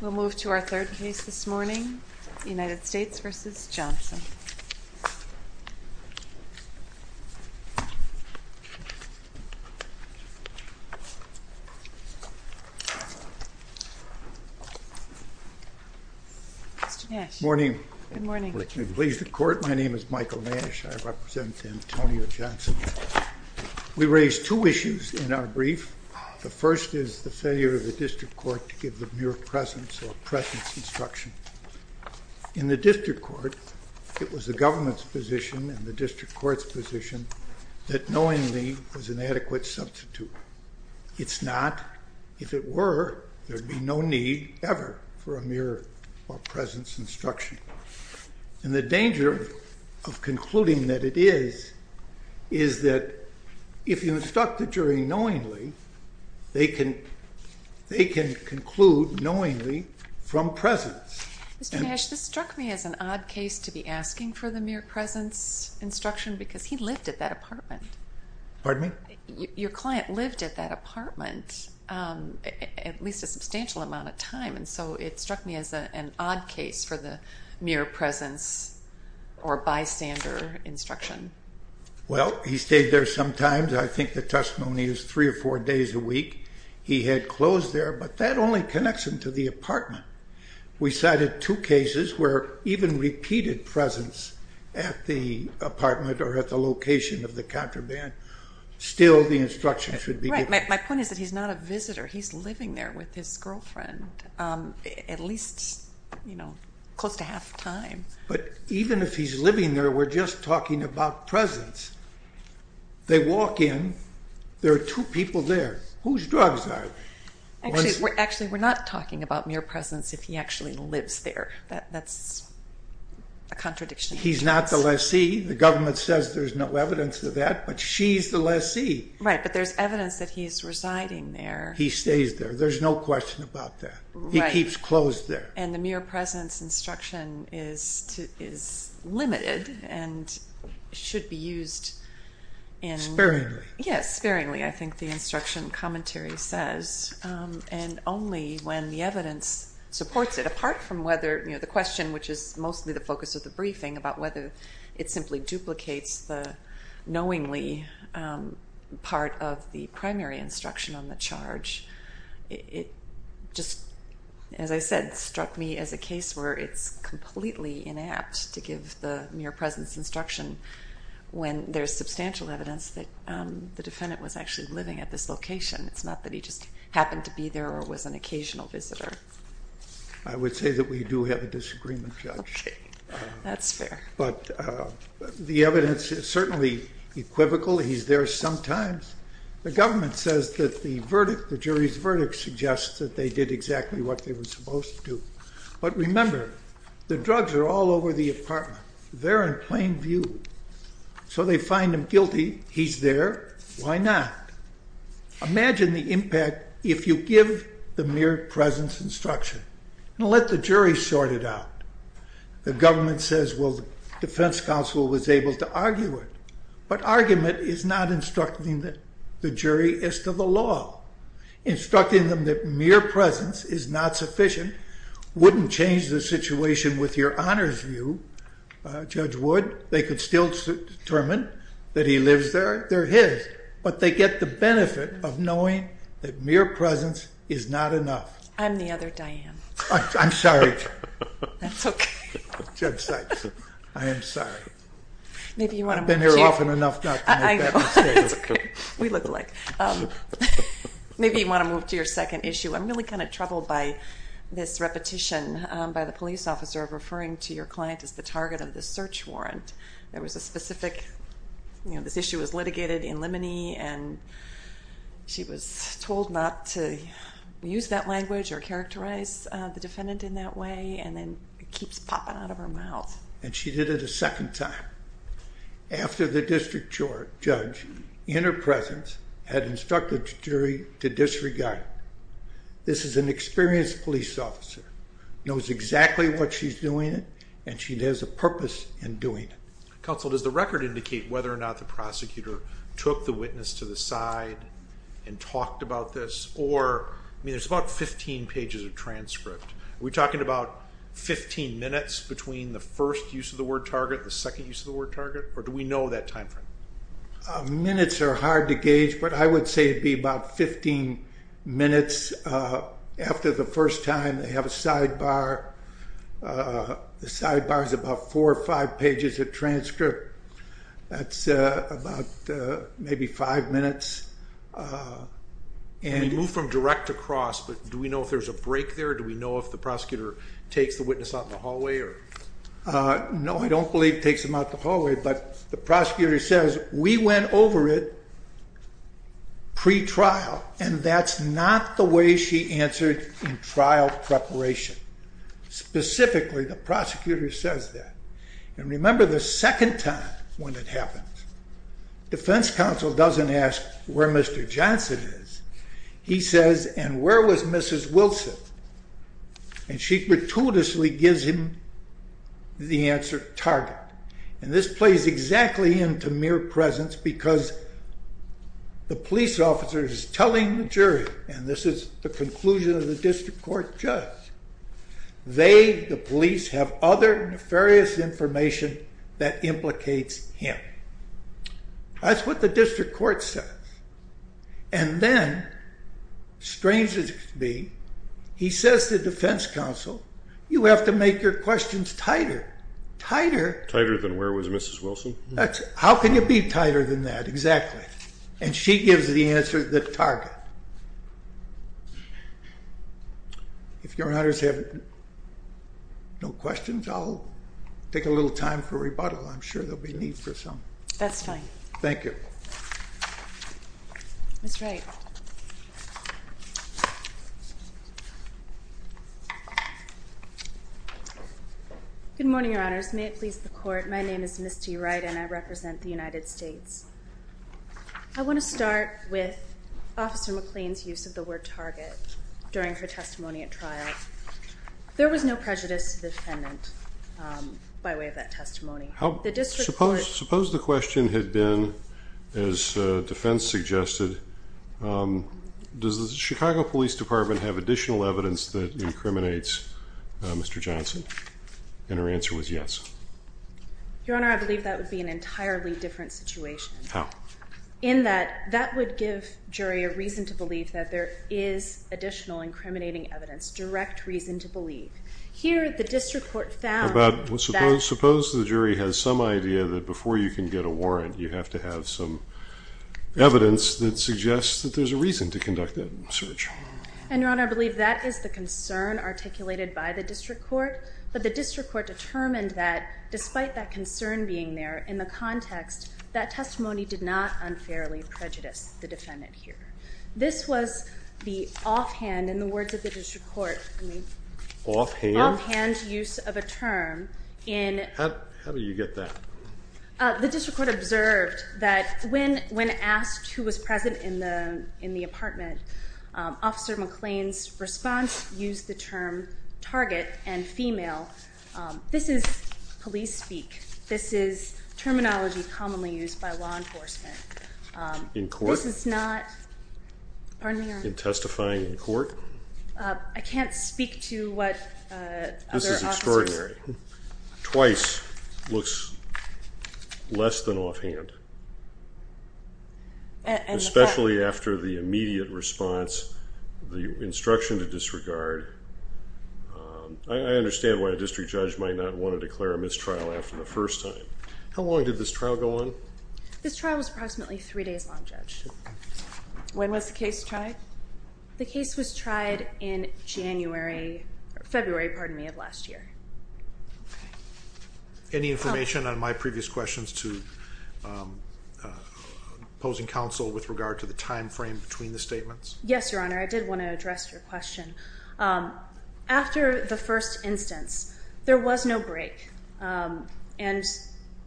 We'll move to our third case this morning, United States v. Johnson. Good morning. Pleased to court. My name is Michael Nash. I represent Antonio Johnson. We raised two issues in our brief. The first is the failure of the district court to give the mere presence or presence instruction. In the district court, it was the government's position and the district court's position that knowingly was an adequate substitute. It's not. If it were, there'd be no need ever for a mere presence instruction. And the danger of concluding that it is, is that if you instruct the jury knowingly, they can conclude knowingly from presence. Mr. Nash, this struck me as an odd case to be asking for the mere presence instruction because he lived at that apartment. Pardon me? Your client lived at that apartment at least a substantial amount of time, and so it struck me as an odd case for the mere presence or bystander instruction. Well, he stayed there sometimes. I think the testimony is three or four days a week. He had closed there, but that only connects him to the apartment. We cited two cases where even repeated presence at the apartment or at the location of the contraband, still the instruction should be given. Right. My point is that he's not a visitor. He's living there with his girlfriend at least, you know, close to half the time. But even if he's living there, we're just talking about presence. They walk in. There are two people there. Whose drugs are they? Actually, we're not talking about mere presence if he actually lives there. That's a contradiction. He's not the lessee. The government says there's no evidence of that, but she's the lessee. Right, but there's evidence that he's residing there. He stays there. There's no question about that. Right. He keeps closed there. And the mere presence instruction is limited and should be used in... Sparingly. Yes, sparingly, I think the instruction commentary says. And only when the evidence supports it, apart from whether, you know, the question which is mostly the focus of the briefing about whether it simply duplicates the knowingly part of the primary instruction on the charge. It just, as I said, struck me as a case where it's completely inapt to give the mere presence instruction when there's substantial evidence that the defendant was actually living at this location. It's not that he just happened to be there or was an occasional visitor. I would say that we do have a disagreement, Judge. That's fair. But the evidence is certainly equivocal. He's there sometimes. The government says that the verdict, the jury's verdict suggests that they did exactly what they were supposed to do. But remember, the drugs are all over the apartment. They're in plain view. So they find him guilty. He's there. Why not? Imagine the impact if you give the mere presence instruction. And let the jury sort it out. The government says, well, the defense counsel was able to argue it. But argument is not instructing the jury as to the law. Instructing them that mere presence is not sufficient wouldn't change the situation with your honor's view, Judge Wood. They could still determine that he lives there. They're his. But they get the benefit of knowing that mere presence is not enough. I'm the other Diane. I'm sorry. That's okay. Judge Sykes, I am sorry. I've been here often enough not to make that mistake. We look alike. Maybe you want to move to your second issue. I'm really kind of troubled by this repetition by the police officer of referring to your client as the target of the search warrant. There was a specific, you know, this issue was litigated in Limoney, and she was told not to use that language or characterize the defendant in that way. And then it keeps popping out of her mouth. And she did it a second time after the district judge in her presence had instructed the jury to disregard. This is an experienced police officer, knows exactly what she's doing, and she has a purpose in doing it. Counsel, does the record indicate whether or not the prosecutor took the witness to the side and talked about this? Or, I mean, there's about 15 pages of transcript. Are we talking about 15 minutes between the first use of the word target, the second use of the word target, or do we know that time frame? Minutes are hard to gauge, but I would say it would be about 15 minutes after the first time. They have a sidebar. The sidebar is about four or five pages of transcript. That's about maybe five minutes. We move from direct to cross, but do we know if there's a break there? Do we know if the prosecutor takes the witness out in the hallway? No, I don't believe it takes them out the hallway, but the prosecutor says, we went over it pre-trial, and that's not the way she answered in trial preparation. Specifically, the prosecutor says that. And remember the second time when it happens, defense counsel doesn't ask where Mr. Johnson is. He says, and where was Mrs. Wilson? And she gratuitously gives him the answer, target. And this plays exactly into mere presence because the police officer is telling the jury, and this is the conclusion of the district court judge, they, the police, have other nefarious information that implicates him. That's what the district court says. And then, strangely, he says to defense counsel, you have to make your questions tighter. Tighter? Tighter than where was Mrs. Wilson? How can you be tighter than that? Exactly. And she gives the answer, the target. If your honors have no questions, I'll take a little time for rebuttal. I'm sure there will be need for some. That's fine. Thank you. Ms. Wright. Good morning, your honors. May it please the court, my name is Misty Wright, and I represent the United States. I want to start with Officer McLean's use of the word target during her testimony at trial. There was no prejudice to the defendant by way of that testimony. Suppose the question had been, as defense suggested, does the Chicago Police Department have additional evidence that incriminates Mr. Johnson? And her answer was yes. Your honor, I believe that would be an entirely different situation. How? In that that would give jury a reason to believe that there is additional incriminating evidence, direct reason to believe. Here the district court found that. Suppose the jury has some idea that before you can get a warrant, you have to have some evidence that suggests that there's a reason to conduct that search. And, your honor, I believe that is the concern articulated by the district court. But the district court determined that despite that concern being there, in the context, that testimony did not unfairly prejudice the defendant here. This was the offhand, in the words of the district court. Offhand? Offhand use of a term in. How do you get that? The district court observed that when asked who was present in the apartment, Officer McLean's response used the term target and female. This is police speak. This is terminology commonly used by law enforcement. In court? This is not. Pardon me, your honor. In testifying in court? I can't speak to what other officers. This is extraordinary. Twice looks less than offhand. Especially after the immediate response, the instruction to disregard. I understand why a district judge might not want to declare a mistrial after the first time. How long did this trial go on? This trial was approximately three days long, Judge. When was the case tried? The case was tried in January, February, pardon me, of last year. Any information on my previous questions to opposing counsel with regard to the time frame between the statements? Yes, your honor. I did want to address your question. After the first instance, there was no break. And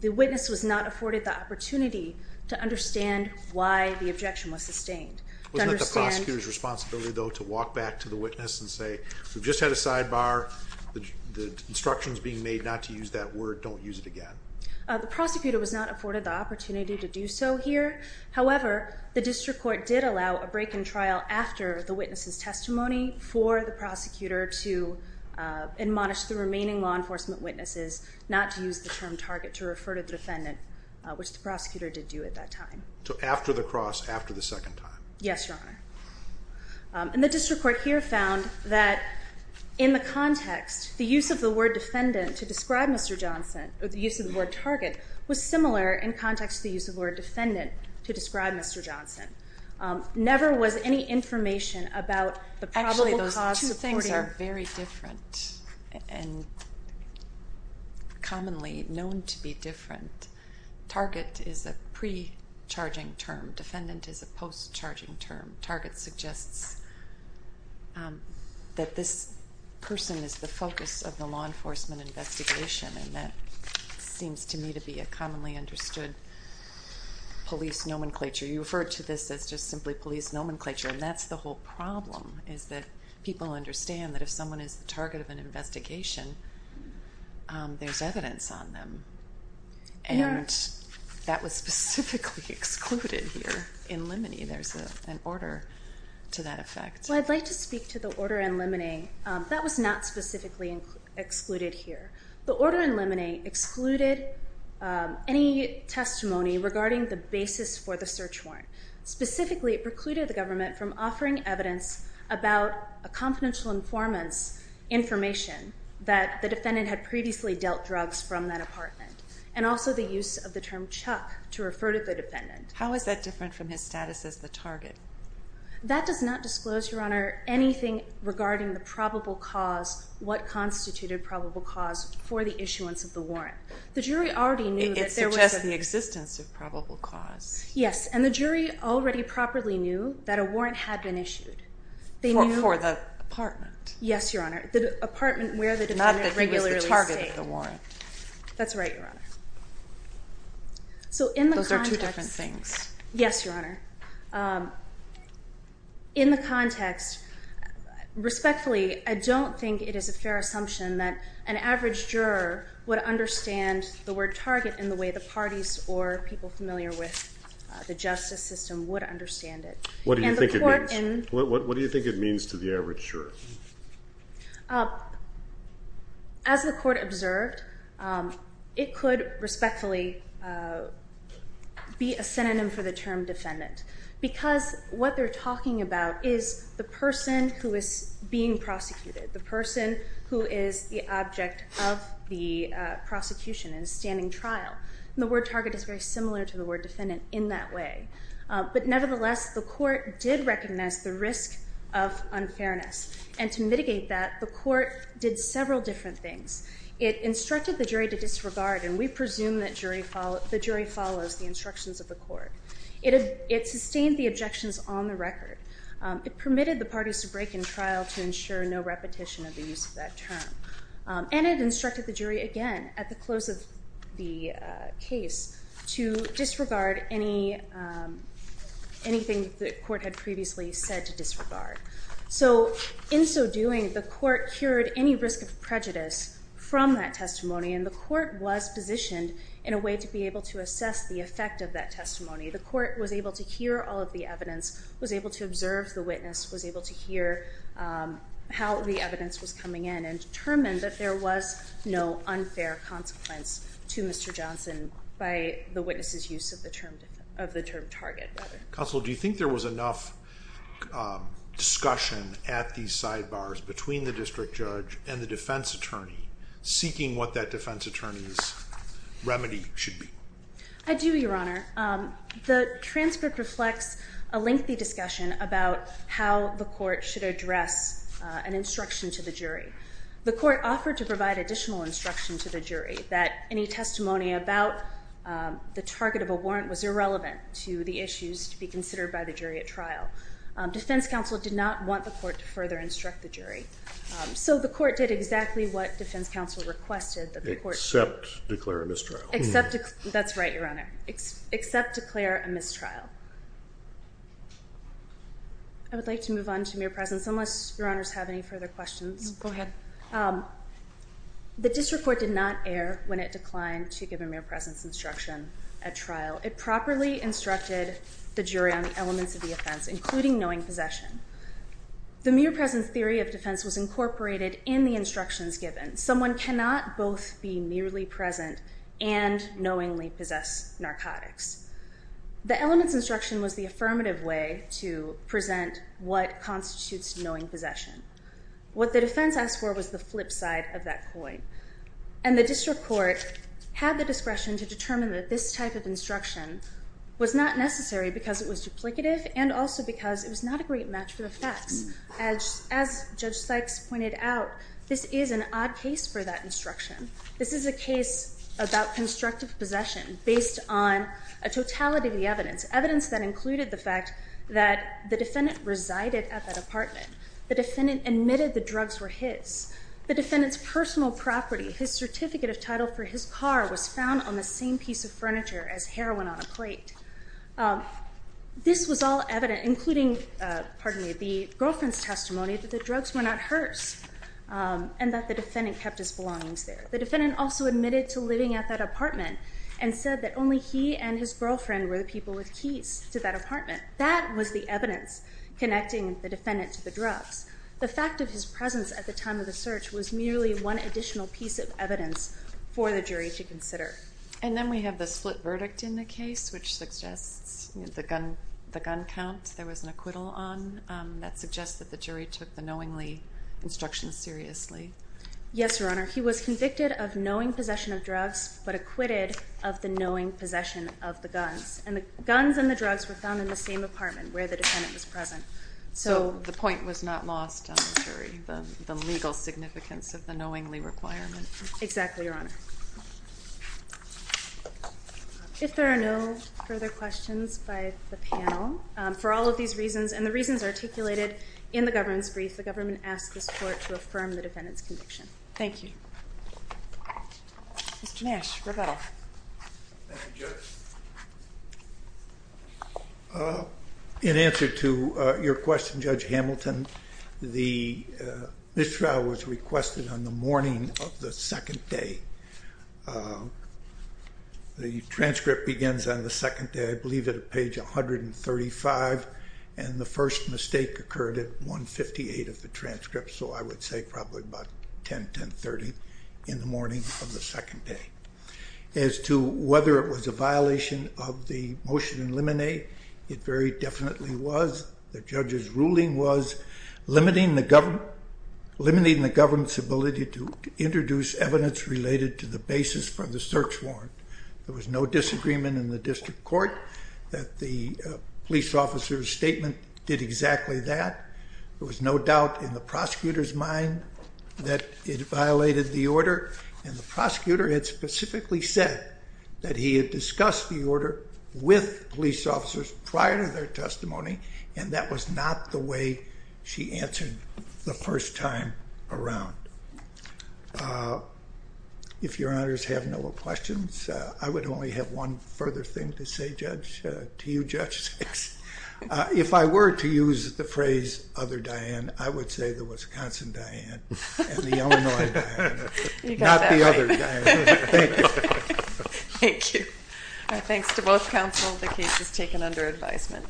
the witness was not afforded the opportunity to understand why the objection was sustained. Wasn't it the prosecutor's responsibility, though, to walk back to the witness and say, we've just had a sidebar, the instructions being made not to use that word, don't use it again? The prosecutor was not afforded the opportunity to do so here. However, the district court did allow a break in trial after the witness's testimony for the prosecutor to admonish the remaining law enforcement witnesses not to use the term target to refer to the defendant, which the prosecutor did do at that time. So after the cross, after the second time. Yes, your honor. And the district court here found that in the context, the use of the word defendant to describe Mr. Johnson, or the use of the word target, was similar in context to the use of the word defendant to describe Mr. Johnson. Never was any information about the probable cause supporting... Defendant is a post-charging term. Target suggests that this person is the focus of the law enforcement investigation, and that seems to me to be a commonly understood police nomenclature. You refer to this as just simply police nomenclature, and that's the whole problem, is that people understand that if someone is the target of an investigation, there's evidence on them. And that was specifically excluded here in Limine. There's an order to that effect. Well, I'd like to speak to the order in Limine. That was not specifically excluded here. The order in Limine excluded any testimony regarding the basis for the search warrant. Specifically, it precluded the government from offering evidence about a confidential informant's information that the defendant had previously dealt drugs from that apartment, and also the use of the term Chuck to refer to the defendant. How is that different from his status as the target? That does not disclose, your honor, anything regarding the probable cause, what constituted probable cause for the issuance of the warrant. The jury already knew that there was a... It suggests the existence of probable cause. Yes, and the jury already properly knew that a warrant had been issued. For the apartment? Yes, your honor. The apartment where the defendant regularly stayed. Not that he was the target of the warrant. That's right, your honor. So in the context... Those are two different things. Yes, your honor. In the context, respectfully, I don't think it is a fair assumption that an average juror would understand the word target in the way the parties or people familiar with the justice system would understand it. What do you think it means? What do you think it means to the average juror? As the court observed, it could respectfully be a synonym for the term defendant. Because what they're talking about is the person who is being prosecuted, the person who is the object of the prosecution and standing trial. And the word target is very similar to the word defendant in that way. But nevertheless, the court did recognize the risk of unfairness. And to mitigate that, the court did several different things. It instructed the jury to disregard, and we presume that the jury follows the instructions of the court. It sustained the objections on the record. It permitted the parties to break in trial to ensure no repetition of the use of that term. And it instructed the jury again at the close of the case to disregard anything the court had previously said to disregard. So in so doing, the court cured any risk of prejudice from that testimony, and the court was positioned in a way to be able to assess the effect of that testimony. The court was able to hear all of the evidence, was able to observe the witness, was able to hear how the evidence was coming in and determined that there was no unfair consequence to Mr. Johnson by the witness's use of the term target. Counsel, do you think there was enough discussion at these sidebars between the district judge and the defense attorney, seeking what that defense attorney's remedy should be? I do, Your Honor. The transcript reflects a lengthy discussion about how the court should address an instruction to the jury. The court offered to provide additional instruction to the jury that any testimony about the target of a warrant was irrelevant to the issues to be considered by the jury at trial. Defense counsel did not want the court to further instruct the jury, so the court did exactly what defense counsel requested. Except declare a mistrial. That's right, Your Honor. Except declare a mistrial. I would like to move on to mere presence, unless Your Honors have any further questions. Go ahead. The district court did not err when it declined to give a mere presence instruction at trial. It properly instructed the jury on the elements of the offense, including knowing possession. The mere presence theory of defense was incorporated in the instructions given. Someone cannot both be merely present and knowingly possess narcotics. The elements instruction was the affirmative way to present what constitutes knowing possession. What the defense asked for was the flip side of that coin. And the district court had the discretion to determine that this type of instruction was not necessary because it was duplicative and also because it was not a great match for the facts. As Judge Sykes pointed out, this is an odd case for that instruction. This is a case about constructive possession based on a totality of the evidence. Evidence that included the fact that the defendant resided at that apartment. The defendant admitted the drugs were his. The defendant's personal property, his certificate of title for his car, was found on the same piece of furniture as heroin on a plate. This was all evident, including the girlfriend's testimony that the drugs were not hers and that the defendant kept his belongings there. The defendant also admitted to living at that apartment and said that only he and his girlfriend were the people with keys to that apartment. That was the evidence connecting the defendant to the drugs. The fact of his presence at the time of the search was merely one additional piece of evidence for the jury to consider. And then we have the split verdict in the case, which suggests the gun count there was an acquittal on. That suggests that the jury took the knowingly instruction seriously. Yes, Your Honor. He was convicted of knowing possession of drugs but acquitted of the knowing possession of the guns. And the guns and the drugs were found in the same apartment where the defendant was present. So the point was not lost on the jury, the legal significance of the knowingly requirement. Exactly, Your Honor. If there are no further questions by the panel, for all of these reasons and the reasons articulated in the government's brief, the government asks this court to affirm the defendant's conviction. Thank you. Mr. Nash, Roberto. Thank you, Judge. In answer to your question, Judge Hamilton, the mistrial was requested on the morning of the second day. The transcript begins on the second day, I believe at page 135, and the first mistake occurred at 158 of the transcript, so I would say probably about 10, 1030 in the morning of the second day. As to whether it was a violation of the motion in limine, it very definitely was. The judge's ruling was limiting the government's ability to introduce evidence related to the basis for the search warrant. There was no disagreement in the district court that the police officer's statement did exactly that. There was no doubt in the prosecutor's mind that it violated the order, and the prosecutor had specifically said that he had discussed the order with police officers prior to their testimony, and that was not the way she answered the first time around. If Your Honors have no questions, I would only have one further thing to say to you, Judge Six. If I were to use the phrase other Diane, I would say the Wisconsin Diane and the Illinois Diane, not the other Diane. Thank you. Thank you. Thanks to both counsel. The case is taken under advisement.